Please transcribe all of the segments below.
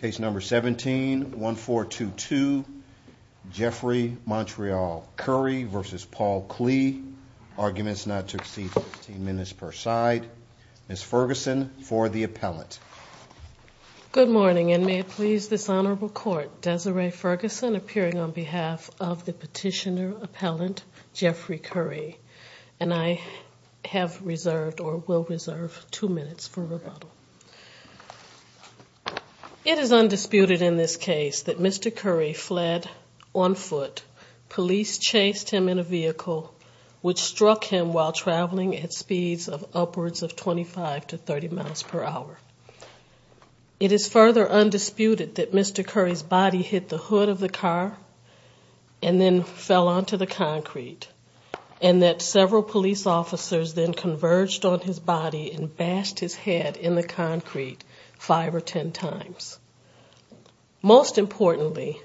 Good morning and may it please this honorable court Desiree Ferguson appearing on behalf of the petitioner appellant Jeffrey Curry and I have reserved or will reserve two minutes for rebuttal. It is undisputed in this case that Mr. Curry fled on foot. Police chased him in a vehicle which struck him while traveling at speeds of upwards of 25 to 30 miles per hour. It is further undisputed that Mr. Curry's body hit the hood of the car and then fell onto the concrete and that several police officers then converged on his body and bashed his head in the concrete five or ten times. Most importantly,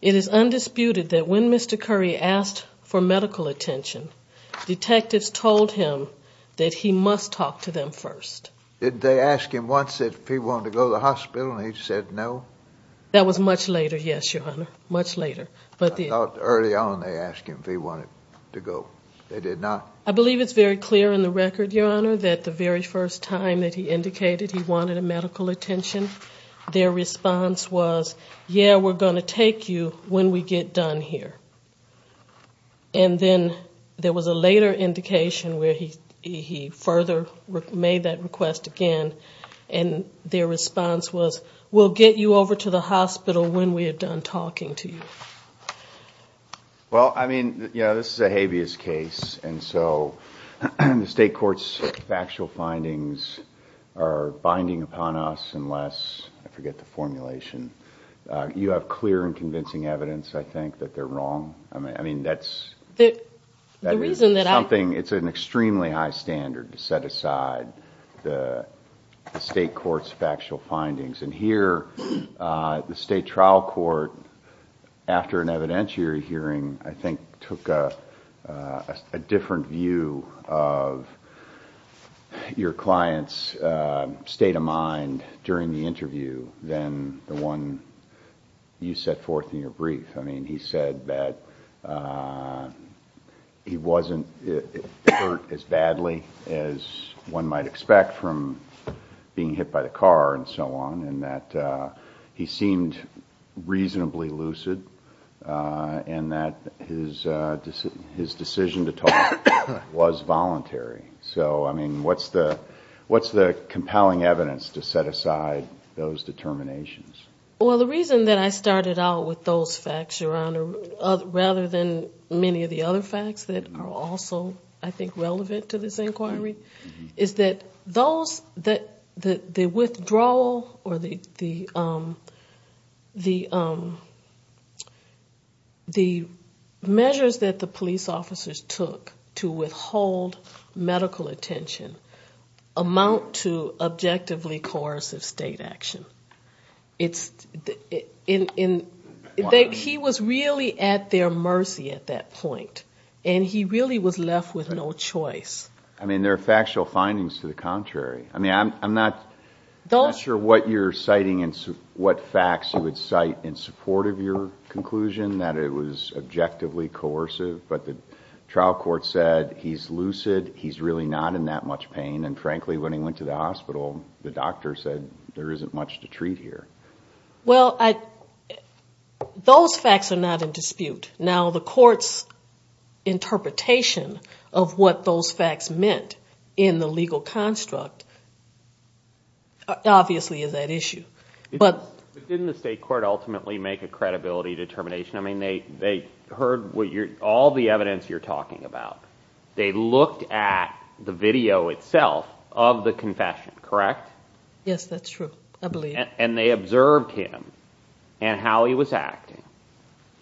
it is undisputed that when Mr. Curry asked for medical attention, detectives told him that he must talk to them first. Did they ask him once if he wanted to go to the hospital and he said no? That was much later, yes, your honor, much later. I thought early on they asked him if he wanted to go. They did not? I believe it's very clear in the record, your honor, that the very first time that he indicated he wanted medical attention, their response was, yeah, we're going to take you when we get done here. And then there was a later indication where he further made that request again and their response was, we'll get you over to the hospital when we're done talking to you. Well, I mean, you know, this is a habeas case and so the state court's factual findings are binding upon us unless, I forget the formulation, you have clear and convincing evidence, I think, that they're wrong. I mean, that's something, it's an extremely high standard to set aside the state court's factual findings and here the state trial court, after an evidentiary hearing, I think took a different view of your client's state of mind during the interview than the one you set forth in your brief. I mean, he said that he wasn't hurt as badly as one might expect from being hit by the car and so on and that he seemed reasonably lucid and that his decision to talk was voluntary. So, I mean, what's the compelling evidence to set aside those determinations? Well, the reason that I started out with those facts, Your Honor, rather than many of the other facts that are also, I think, relevant to this inquiry, is that the withdrawal or the measures that the police officers took to withhold medical attention amount to objectively coercive state action. He was really at their mercy at that point and he really was left with no choice. I mean, there are factual findings to the contrary. I mean, I'm not sure what you're citing and what facts you would cite in support of your conclusion that it was objectively coercive, but the trial court said he's lucid, he's really not in that much pain, and frankly, when he went to the hospital, the doctor said there isn't much to treat here. Well, those facts are not in dispute. Now, the court's interpretation of what those facts meant in the legal construct obviously is at issue. But didn't the state court ultimately make a credibility determination? I mean, they heard all the evidence you're talking about. They looked at the video itself of the confession, correct? Yes, that's true, I believe. And they observed him and how he was acting.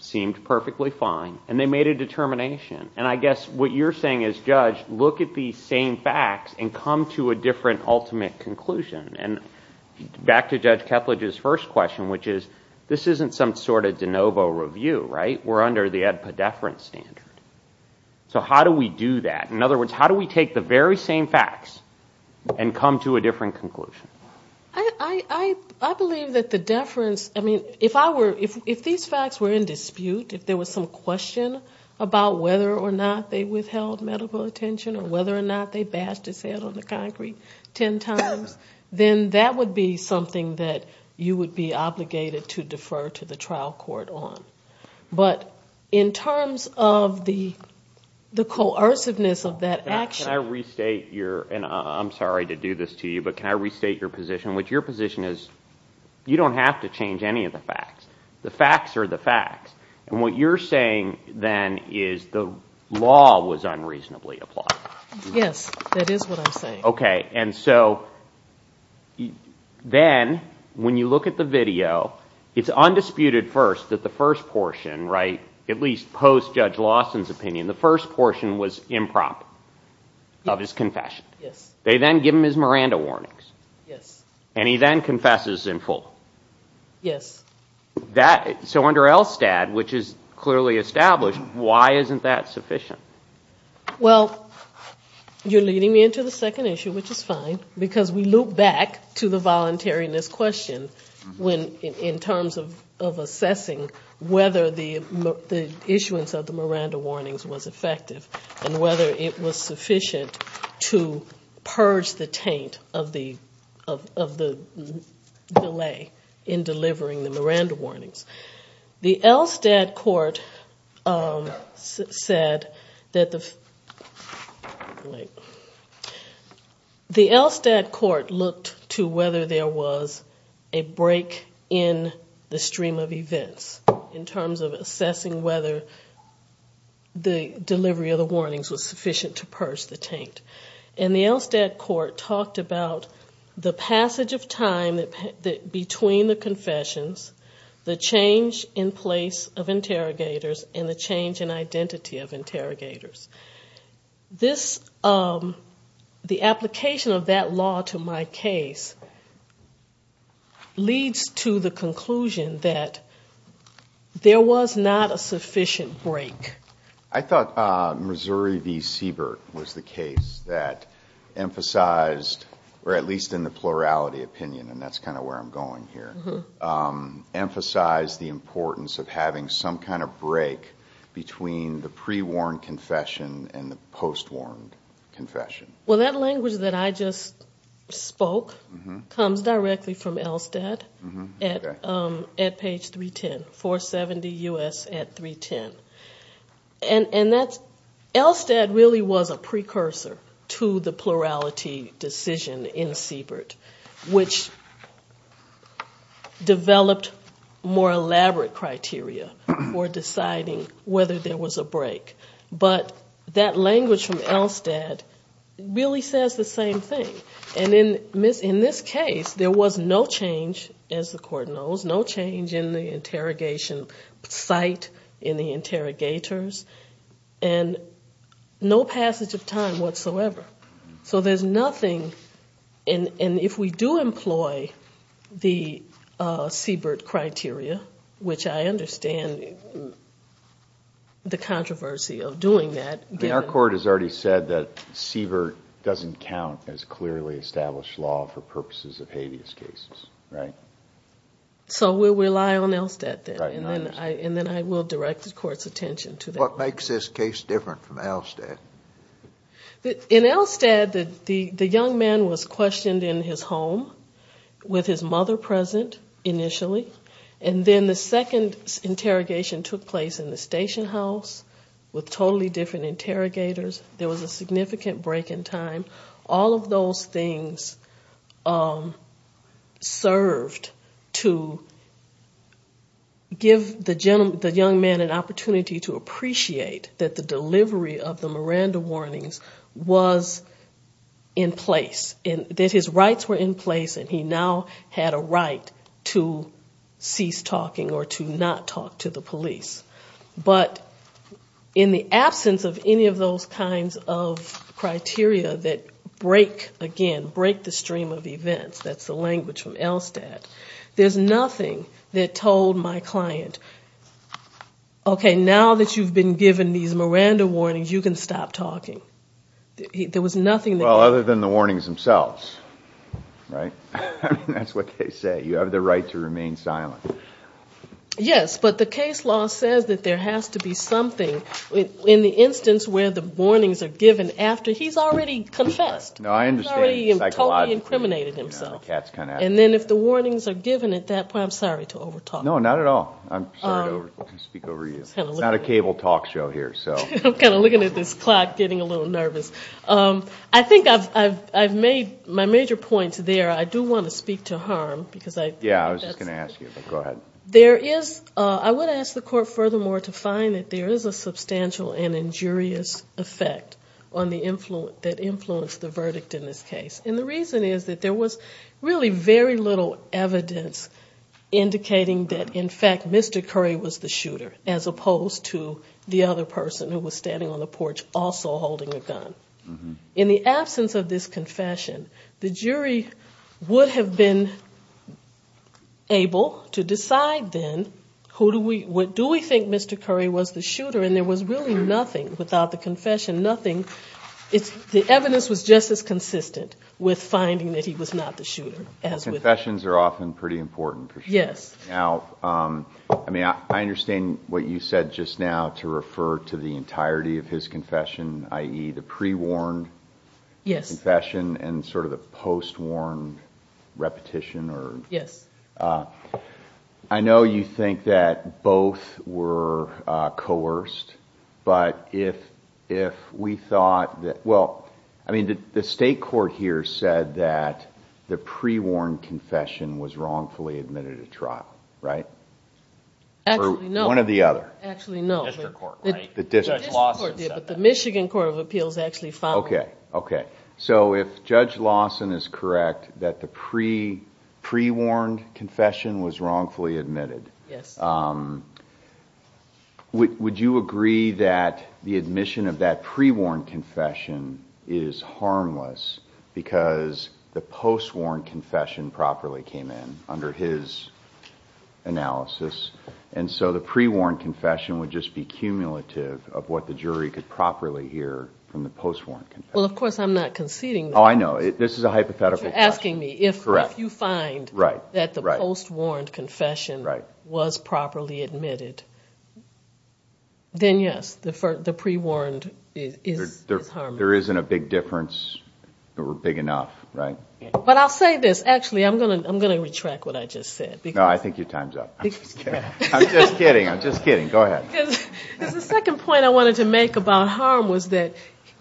Seemed perfectly fine. And they made a determination. And I guess what you're saying is, Judge, look at these same facts and come to a different ultimate conclusion. And back to Judge Ketledge's first question, which is, this isn't some sort of de novo review, right? We're under the Ed Poddeferent standard. So how do we do that? In other words, how do we take the very same facts and come to a different conclusion? I believe that the deference, I mean, if these facts were in dispute, if there was some question about whether or not they withheld medical attention or whether or not they bashed his head on the concrete ten times, then that would be something that you would be obligated to defer to the trial court on. But in terms of the coerciveness of that action. Can I restate your, and I'm sorry to do this to you, but can I restate your position? What your position is, you don't have to change any of the facts. The facts are the facts. And what you're saying then is the law was unreasonably applied. Yes, that is what I'm saying. Okay. And so then when you look at the video, it's undisputed first that the first portion, right, at least post-Judge Lawson's opinion, the first portion was impromptu of his confession. Yes. They then give him his Miranda warnings. Yes. And he then confesses in full. Yes. So under ELSTAD, which is clearly established, why isn't that sufficient? Well, you're leading me into the second issue, which is fine, because we loop back to the voluntariness question in terms of assessing whether the issuance of the Miranda warnings was effective and whether it was sufficient to purge the taint of the delay in delivering the Miranda warnings. The ELSTAD court looked to whether there was a break in the stream of events in terms of assessing whether the delivery of the warnings was sufficient to purge the taint. And the ELSTAD court talked about the passage of time between the confessions, the change in place of interrogators, and the change in identity of interrogators. The application of that law to my case leads to the conclusion that there was not a sufficient break. I thought Missouri v. Siebert was the case that emphasized, or at least in the plurality opinion, and that's kind of where I'm going here, emphasized the importance of having some kind of break between the pre-warned confession and the post-warned confession. Well, that language that I just spoke comes directly from ELSTAD at page 310, 470 U.S. at 310. And ELSTAD really was a precursor to the plurality decision in Siebert, which developed more elaborate criteria for deciding whether there was a break. But that language from ELSTAD really says the same thing. And in this case, there was no change, as the court knows, no change in the interrogation site, in the interrogators, and no passage of time whatsoever. So there's nothing, and if we do employ the Siebert criteria, which I understand the controversy of doing that. I mean, our court has already said that Siebert doesn't count as clearly established law for purposes of habeas cases, right? So we rely on ELSTAD then, and then I will direct the court's attention to that. What makes this case different from ELSTAD? In ELSTAD, the young man was questioned in his home, with his mother present initially. And then the second interrogation took place in the station house, with totally different interrogators. There was a significant break in time. All of those things served to give the young man an opportunity to appreciate that the delivery of the Miranda warnings was in place, that his rights were in place, and he now had a right to cease talking or to not talk to the police. But in the absence of any of those kinds of criteria that break, again, break the stream of events, that's the language from ELSTAD, there's nothing that told my client, okay, now that you've been given these Miranda warnings, you can stop talking. There was nothing that could. Well, other than the warnings themselves, right? I mean, that's what they say, you have the right to remain silent. Yes, but the case law says that there has to be something in the instance where the warnings are given after he's already confessed. He's already totally incriminated himself. And then if the warnings are given at that point, I'm sorry to over talk. No, not at all. I'm sorry to speak over you. It's not a cable talk show here. I'm kind of looking at this clock getting a little nervous. I think I've made my major points there. I do want to speak to harm. Yeah, I was just going to ask you, but go ahead. I would ask the Court furthermore to find that there is a substantial and injurious effect that influenced the verdict in this case. And the reason is that there was really very little evidence indicating that, in fact, Mr. Curry was the shooter, as opposed to the other person who was standing on the porch also holding a gun. In the absence of this confession, the jury would have been able to decide then, who do we, do we think Mr. Curry was the shooter? And there was really nothing without the confession, nothing. The evidence was just as consistent with finding that he was not the shooter. Confessions are often pretty important. I understand what you said just now, to refer to the entirety of his confession, i.e., the pre-warned confession and sort of the post-warn repetition. I know you think that both were coerced, but if we thought that both were coerced, I mean, the State Court here said that the pre-warned confession was wrongfully admitted at trial, right? Actually, no. One or the other. Actually, no. The District Court did, but the Michigan Court of Appeals actually followed. The pre-warned confession is harmless because the post-warned confession properly came in under his analysis, and so the pre-warned confession would just be cumulative of what the jury could properly hear from the post-warned confession. Well, of course I'm not conceding that. Oh, I know. This is a hypothetical question. You're asking me if you find that the post-warned confession was properly admitted. Then yes, the pre-warned is harmless. There isn't a big difference, or big enough, right? But I'll say this. Actually, I'm going to retract what I just said. No, I think your time's up. I'm just kidding. I'm just kidding. Go ahead. Because the second point I wanted to make about harm was that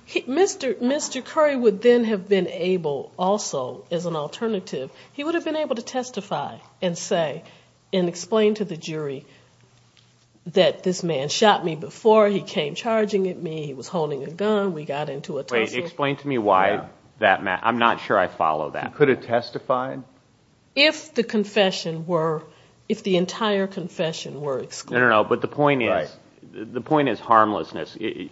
Mr. Curry would then have been able also, as an alternative, he would have been able to testify and say and explain to the jury that this man shot me before, he came charging at me, he was holding a gun, we got into a tussle. Wait, explain to me why. I'm not sure I follow that. He could have testified? No, no, no. But the point is, the point is harmlessness. The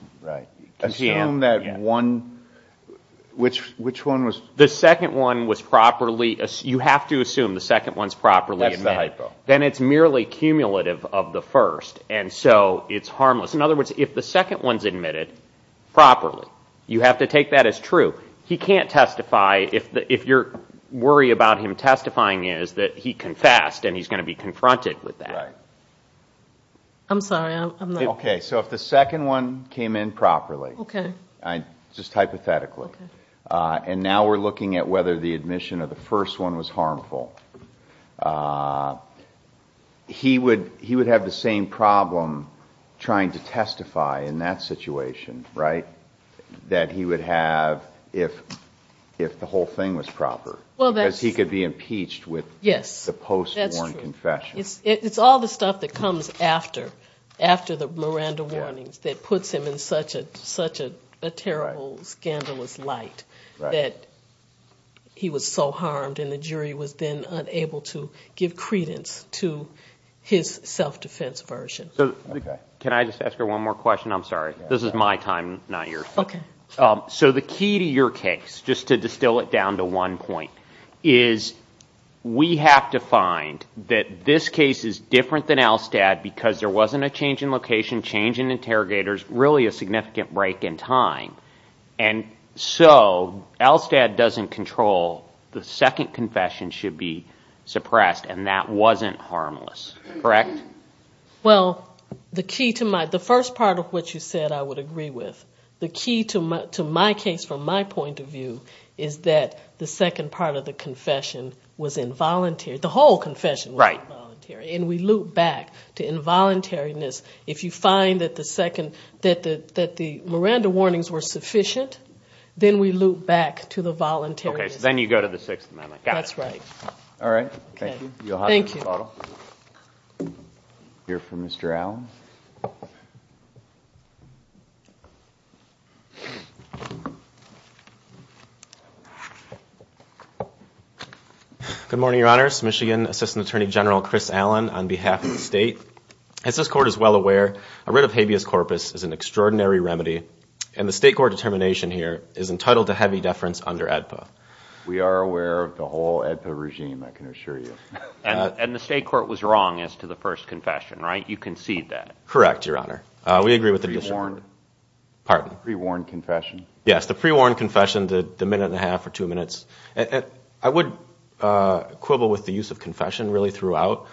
second one was properly, you have to assume the second one's properly admitted. Then it's merely cumulative of the first, and so it's harmless. In other words, if the second one's admitted properly, you have to take that as true. He can't testify, if your worry about him testifying is that he confessed and he's going to be confronted with that. I'm sorry, I'm not... Okay, so if the second one came in properly, just hypothetically, and now we're looking at whether the admission of the first one was harmful, he would have the same problem trying to testify in that situation, right? That he would have if the whole thing was proper, because he could be impeached with the post-mortem confession. It's all the stuff that comes after the Miranda warnings that puts him in such a terrible, scandalous light, that he was so harmed and the jury was then unable to give credence to his self-defense version. Can I just ask her one more question? I'm sorry, this is my time, not yours. So the key to your case, just to distill it down to one point, is we have to find that this case is different than Alstad, because there wasn't a change in location, change in interrogators, really a significant break in time. And so Alstad doesn't control the second confession should be suppressed, and that wasn't harmless, correct? Well, the key to my, the first part of what you said I would agree with, the key to my case from my point of view, is that the second part of the confession was involuntary, the whole confession was involuntary, and we loop back to involuntariness. If you find that the Miranda warnings were sufficient, then we loop back to the voluntariness. Okay, so then you go to the Sixth Amendment. We'll hear from Mr. Allen. Good morning, Your Honors. Michigan Assistant Attorney General Chris Allen on behalf of the State. As this Court is well aware, a writ of habeas corpus is an extraordinary remedy, and the State court determination here is entitled to heavy deference under AEDPA. We are aware of the whole AEDPA regime, I can assure you. And the State court was wrong as to the first confession, right? You concede that. Correct, Your Honor. We agree with the decision. The pre-warned confession? Yes, the pre-warned confession, the minute and a half or two minutes. I would quibble with the use of confession really throughout.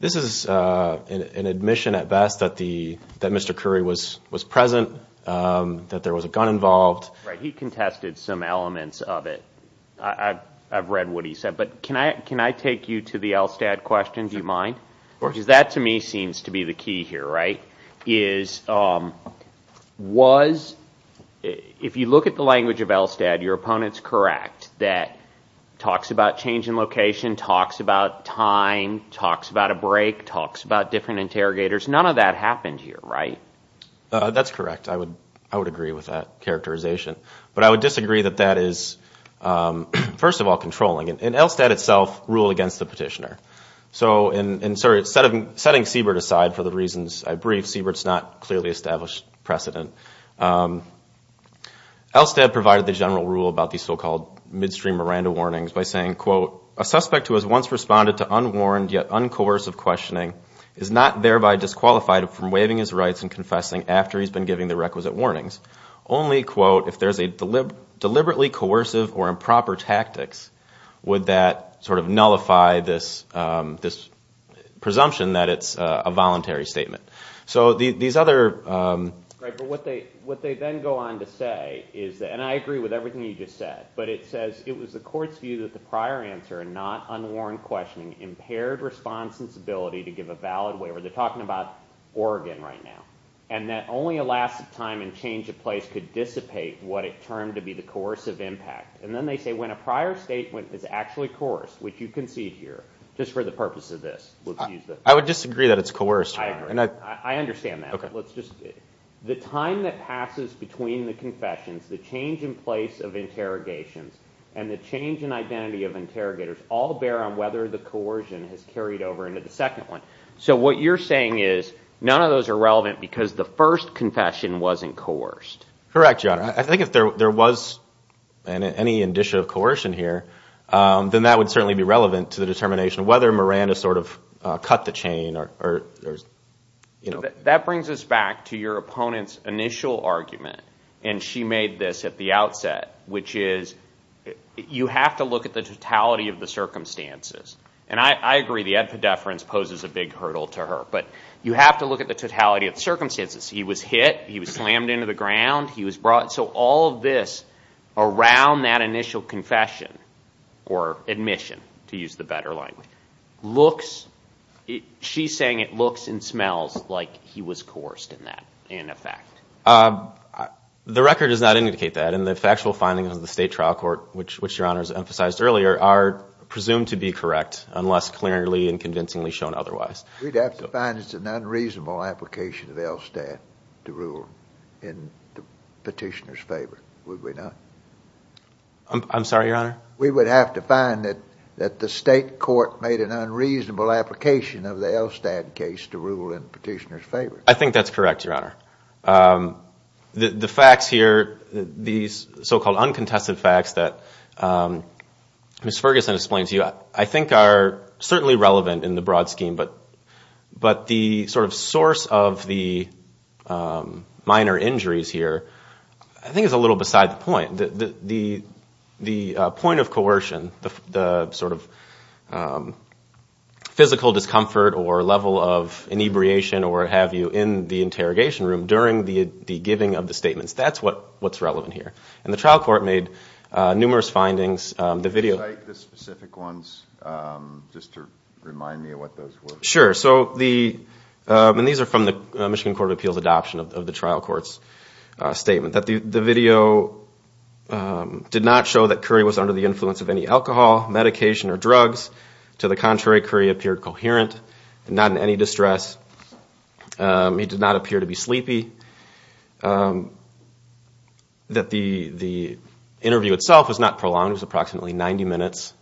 This is an admission at best that Mr. Curry was present, that there was a gun involved. Right, he contested some elements of it. I've read what he said. But can I take you to the Elstad question, do you mind? Because that to me seems to be the key here, right? Was, if you look at the language of Elstad, your opponent's correct, that talks about change in location, talks about time, talks about a break, talks about different interrogators, none of that happened here, right? That's correct, I would agree with that characterization. But I would disagree that that is, first of all, controlling. And Elstad itself ruled against the petitioner. So, and sorry, setting Siebert aside for the reasons I briefed, Siebert's not clearly established precedent. Elstad provided the general rule about these so-called midstream Miranda warnings by saying, quote, a suspect who has once responded to unwarned yet uncoercive questioning is not thereby disqualified from waiving his rights and confessing after he's been given the requisite warnings. Only, quote, if there's a deliberately coercive or improper tactics, would that sort of nullify this presumption that it's a voluntary statement? So these other... Right, but what they then go on to say is that, and I agree with everything you just said, but it says it was the court's view that the prior answer, not unwarned questioning, impaired response's ability to give a valid waiver. They're talking about Oregon right now. And that only a last time and change of place could dissipate what it turned to be the coercive impact. And then they say when a prior statement is actually coerced, which you can see here, just for the purpose of this. I would disagree that it's coerced. The time that passes between the confessions, the change in place of interrogations, and the change in identity of interrogators all bear on whether the coercion has carried over into the second one. So what you're saying is none of those are relevant because the first confession wasn't coerced. Correct, Your Honor. I think if there was any indicia of coercion here, then that would certainly be relevant to the determination of whether Miranda sort of cut the chain. That brings us back to your opponent's initial argument, and she made this at the outset, which is you have to look at the totality of the circumstances. And I agree the epideference poses a big hurdle to her, but you have to look at the totality of the circumstances. He was hit, he was slammed into the ground, he was brought. So all of this around that initial confession or admission, to use the better language, looks, she's saying it looks and smells like he was coerced in that, in effect. The record does not indicate that, and the factual findings of the state trial court, which Your Honor has emphasized earlier, are presumed to be correct unless clearly and convincingly shown otherwise. We'd have to find it's an unreasonable application of Elstad to rule in the petitioner's favor, would we not? I'm sorry, Your Honor? We would have to find that the state court made an unreasonable application of the Elstad case to rule in the petitioner's favor. I think that's correct, Your Honor. The facts here, these so-called uncontested facts that Ms. Ferguson explains to you, I think are certainly relevant in the broad scheme, but the sort of source of the minor injuries here, I think is a little beside the point. The point of coercion, the sort of physical discomfort or level of inebriation or what have you, in the interrogation room during the giving of the statements, that's what's relevant here. And the trial court made numerous findings. Could you cite the specific ones, just to remind me of what those were? Sure. And these are from the Michigan Court of Appeals adoption of the trial court's statement. The video did not show that Curry was under the influence of any alcohol, medication or drugs. To the contrary, Curry appeared coherent, not in any distress. He did not appear to be sleepy. The interview itself was not prolonged. It was approximately 90 minutes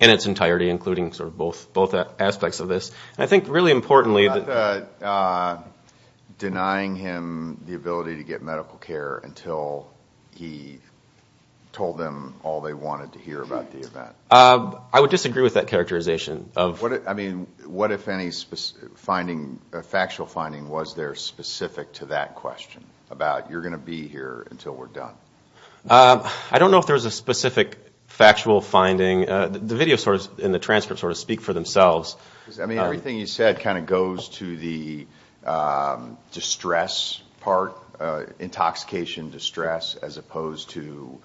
in its entirety, including sort of both aspects of this. And I think really importantly... Denying him the ability to get medical care until he told them all they wanted to hear about the event. I would disagree with that characterization. I mean, what, if any, factual finding was there specific to that question, about you're going to be here until we're done? I don't know if there was a specific factual finding. The video and the transcript sort of speak for themselves. I mean, everything you said kind of goes to the distress part. Intoxication, distress, as opposed to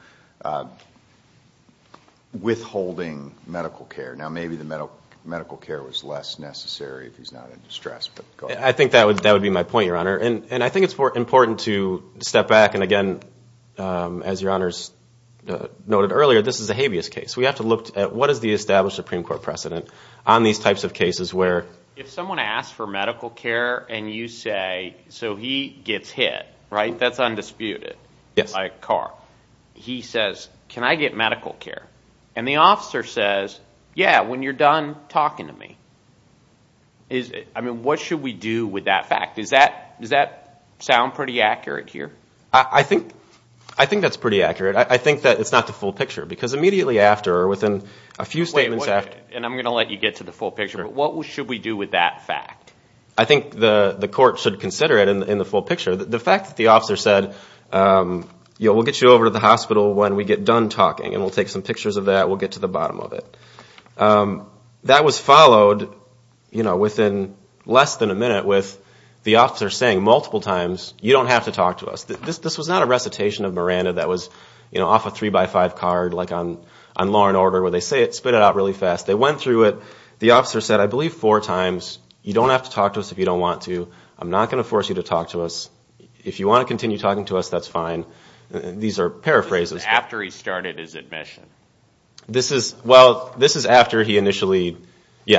withholding medical care. Now maybe the medical care was less necessary if he's not in distress. And I think it's important to step back and again, as your honors noted earlier, this is a habeas case. We have to look at what is the established Supreme Court precedent on these types of cases where... If someone asks for medical care and you say, so he gets hit, right? That's undisputed. By a car. He says, can I get medical care? And the officer says, yeah, when you're done talking to me. I mean, what should we do with that fact? Does that sound pretty accurate here? I think that's pretty accurate. I think that it's not the full picture because immediately after or within a few statements after... And I'm going to let you get to the full picture, but what should we do with that fact? I think the court should consider it in the full picture. The fact that the officer said, we'll get you over to the hospital when we get done talking and we'll take some pictures of that. We'll get to the bottom of it. That was followed within less than a minute with the officer saying multiple times, you don't have to talk to us. This was not a recitation of Miranda that was off a three by five card like on Law and Order where they spit it out really fast. They went through it. The officer said, I believe four times, you don't have to talk to us if you don't want to. I'm not going to force you to talk to us. If you want to continue talking to us, that's fine. These are paraphrases. This is after he initially... He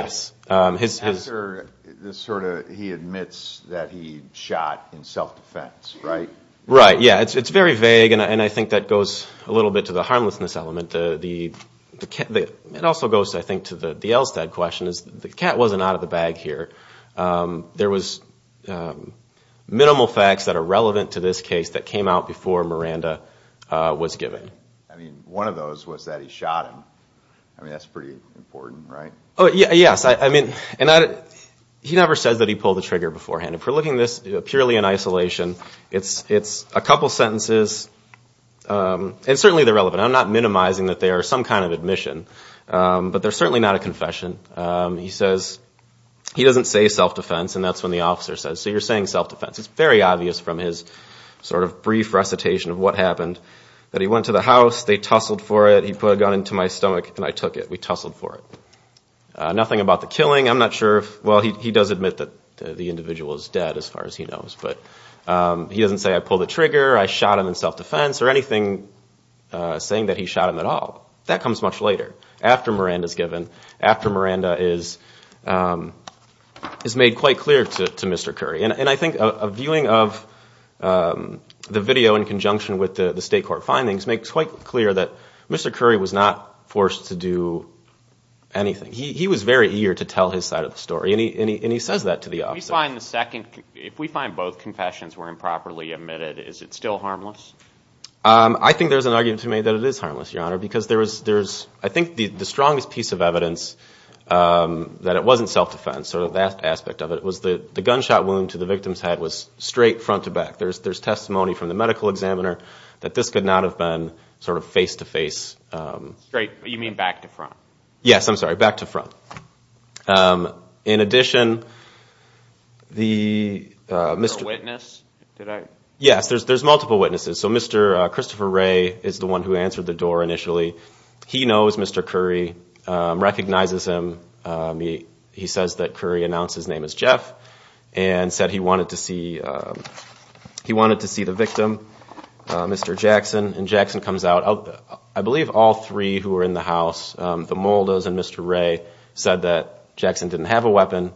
admits that he shot in self-defense, right? Right. Yeah, it's very vague and I think that goes a little bit to the harmlessness element. It also goes, I think, to the Elstad question. The cat wasn't out of the bag here. There was minimal facts that are relevant to this case that came out before Miranda was given. One of those was that he shot him. That's pretty important, right? Yes. He never says that he pulled the trigger beforehand. If we're looking at this purely in isolation, it's a couple sentences and certainly they're relevant. I'm not minimizing that they are some kind of admission, but they're certainly not a confession. He doesn't say self-defense and that's when the officer says, so you're saying self-defense. It's very obvious from his sort of brief recitation of what happened that he went to the house, they tussled for it, he put a gun into my stomach and I took it. We tussled for it. Nothing about the killing. He does admit that the individual is dead as far as he knows, but he doesn't say I pulled the trigger, I shot him in self-defense or anything saying that he shot him at all. That comes much later, after Miranda is given, after Miranda is made quite clear to Mr. Curry. I think a viewing of the video in conjunction with the state court findings makes quite clear that Mr. Curry was not forced to do anything. He was very eager to tell his side of the story and he says that to the officer. If we find both confessions were improperly admitted, is it still harmless? I think there's an argument to make that it is harmless, Your Honor, because I think the strongest piece of evidence that it wasn't self-defense, the gunshot wound to the victim's head was straight front to back. There's testimony from the medical examiner that this could not have been face-to-face. Straight, you mean back to front? Yes, I'm sorry, back to front. In addition, there's multiple witnesses. Mr. Christopher Ray is the one who answered the door initially. He knows Mr. Curry, recognizes him. He says that Curry announced his name as Jeff and said he wanted to see the victim, Mr. Jackson. And Jackson comes out. I believe all three who were in the house, the Mulders and Mr. Ray, said that Jackson didn't have a weapon.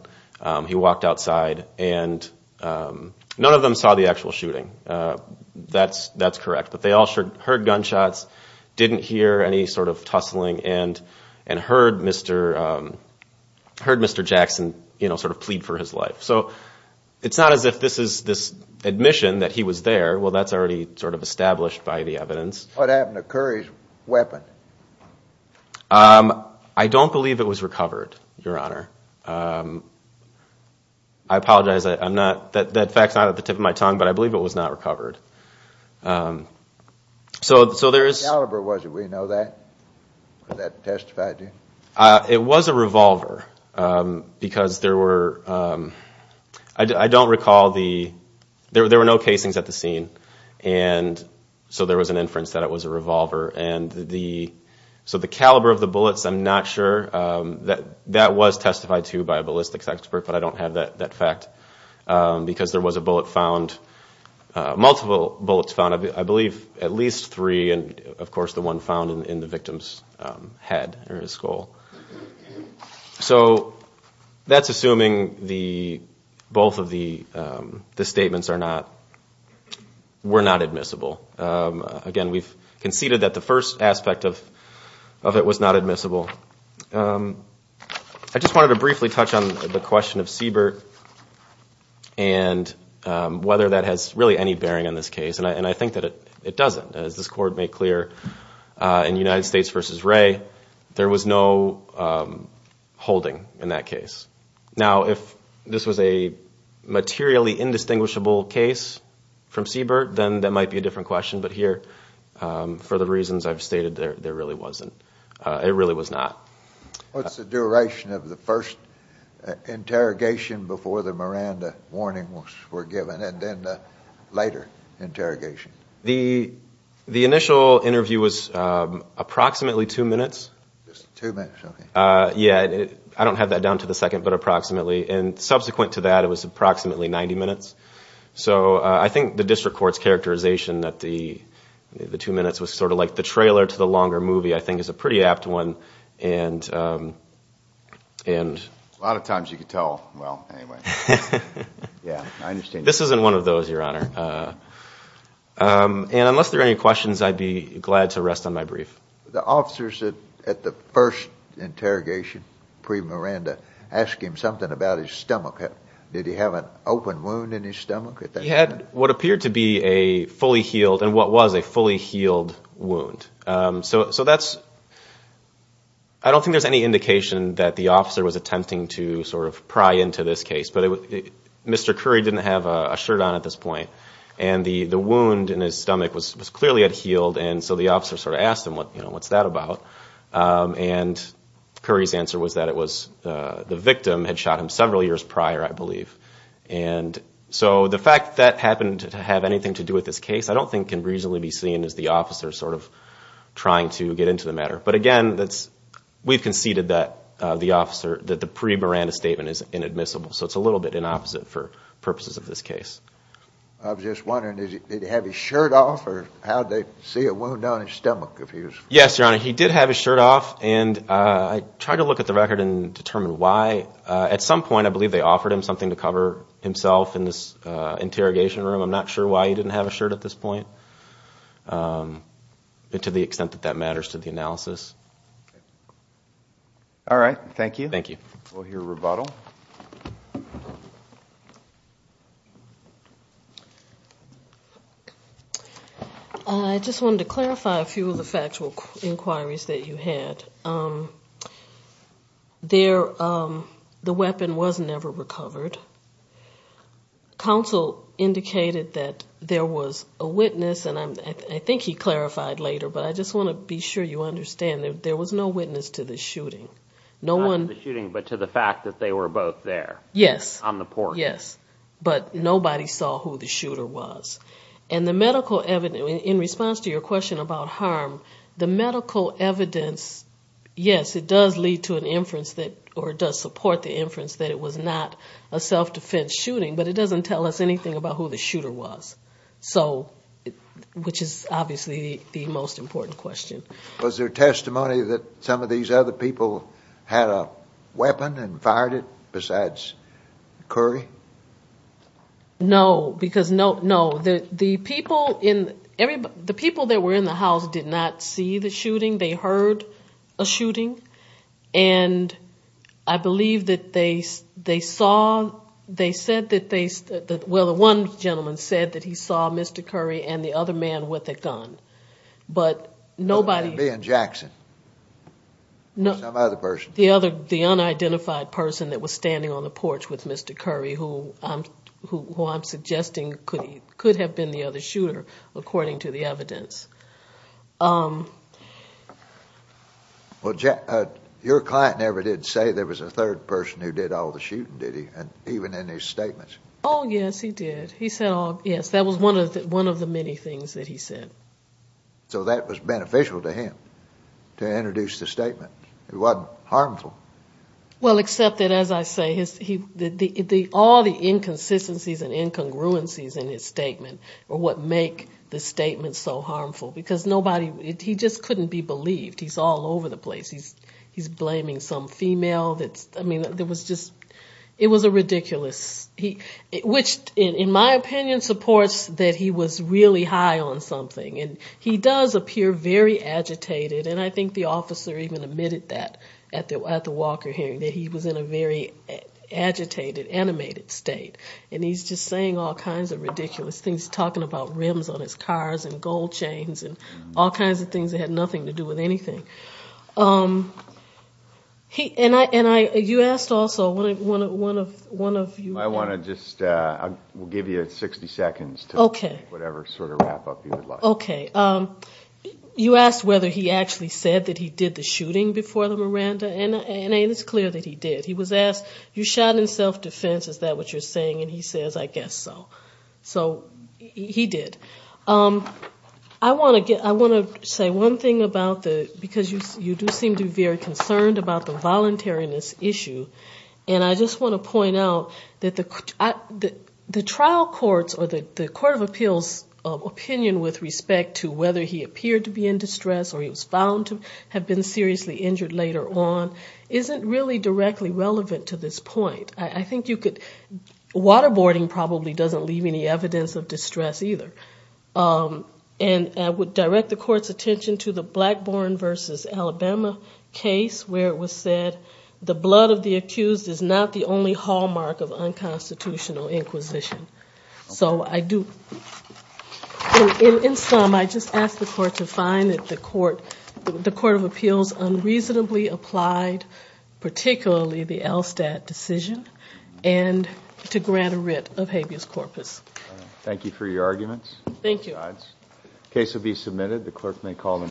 He walked outside and none of them saw the actual shooting. That's correct, but they all heard gunshots, didn't hear any sort of tussling and heard Mr. Jackson sort of plead for his life. So it's not as if this is this admission that he was there. Well, that's already sort of established by the evidence. What happened to Curry's weapon? I don't believe it was recovered, Your Honor. I apologize. That fact's not at the tip of my tongue, but I believe it was not recovered. What caliber was it? Do we know that? It was a revolver because there were, I don't recall the... There were no casings at the scene, so there was an inference that it was a revolver. So the caliber of the bullets, I'm not sure. That was testified to by a ballistics expert, but I don't have that fact because there was a bullet found, multiple bullets found. I believe at least three, and of course the one found in the victim's head or his skull. So that's assuming both of the statements were not admissible. Again, we've conceded that the first aspect of it was not admissible. I just wanted to briefly touch on the question of Siebert and whether that has really any bearing on this case, and I think that it doesn't. As this Court made clear in United States v. Wray, there was no holding in that case. Now, if this was a materially indistinguishable case from Siebert, then that might be a different question. But here, for the reasons I've stated, there really wasn't. It really was not. What's the duration of the first interrogation before the Miranda warning was given, and then the later interrogation? The initial interview was approximately two minutes. I don't have that down to the second, but approximately. And subsequent to that, it was approximately 90 minutes. So I think the district court's characterization that the two minutes was sort of like the trailer to the longer movie, I think, is a pretty apt one. A lot of times you can tell. This isn't one of those, Your Honor. And unless there are any questions, I'd be glad to rest on my brief. I have a question about his stomach. Did he have an open wound in his stomach at that time? He had what appeared to be a fully healed, and what was a fully healed wound. I don't think there's any indication that the officer was attempting to sort of pry into this case. But Mr. Curry didn't have a shirt on at this point, and the wound in his stomach was clearly unhealed, and so the officer sort of asked him, what's that about? And Curry's answer was that the victim had shot him several years prior, I believe. And so the fact that that happened to have anything to do with this case I don't think can reasonably be seen as the officer sort of trying to get into the matter. But again, we've conceded that the pre-Miranda statement is inadmissible. So it's a little bit inopposite for purposes of this case. I was just wondering, did he have his shirt off, or how did they see a wound on his stomach? Yes, Your Honor, he did have his shirt off, and I tried to look at the record and determine why. At some point, I believe they offered him something to cover himself in this interrogation room. I'm not sure why he didn't have a shirt at this point, to the extent that that matters to the analysis. All right. Thank you. I just wanted to clarify a few of the factual inquiries that you had. The weapon was never recovered. Counsel indicated that there was a witness, and I think he clarified later, but I just want to be sure you understand, there was no witness to the shooting. Not to the shooting, but to the fact that they were both there on the porch. Yes, but nobody saw who the shooter was. In response to your question about harm, the medical evidence, yes, it does lead to an inference, or it does support the inference that it was not a self-defense shooting, but it doesn't tell us anything about who the shooter was, which is obviously the most important question. Was there testimony that some of these other people had a weapon and fired it, besides Curry? No, because no. The people that were in the house did not see the shooting. They heard a shooting, and I believe that they saw, they said that they, well, the one gentleman said that he saw Mr. Curry and the other man with a gun, but nobody. The unidentified person that was standing on the porch with Mr. Curry, who I'm suggesting could have been the other shooter, according to the evidence. Well, your client never did say there was a third person who did all the shooting, did he, even in his statements? Oh, yes, he did. So that was beneficial to him, to introduce the statement. It wasn't harmful. Well, except that, as I say, all the inconsistencies and incongruencies in his statement are what make the statement so harmful, because nobody, he just couldn't be believed. He's all over the place. He's blaming some female that's, I mean, it was a ridiculous, which in my opinion supports that he was really high on something, and he does appear very agitated, and I think the officer even admitted that at the Walker hearing, that he was in a very agitated, animated state, and he's just saying all kinds of ridiculous things, and he's talking about rims on his cars and gold chains and all kinds of things that had nothing to do with anything. And you asked also, one of you. I want to just, we'll give you 60 seconds to whatever sort of wrap up you would like. Okay. You asked whether he actually said that he did the shooting before the Miranda, and it's clear that he did. He was asked, you shot in self-defense, is that what you're saying, and he says, I guess so. So he did. I want to say one thing about the, because you do seem to be very concerned about the voluntariness issue, and I just want to point out that the trial courts or the court of appeals opinion with respect to whether he appeared to be in distress, or he was found to have been seriously injured later on, isn't really directly relevant to this point. I think you could, waterboarding probably doesn't leave any evidence of distress either. And I would direct the court's attention to the Blackburn v. Alabama case where it was said, the blood of the accused is not the only hallmark of unconstitutional inquisition. So I do, in some, I just ask the court to find that the court, the court of appeals unreasonably applied, particularly the Elstad decision, and to grant a writ of habeas corpus. Thank you for your arguments.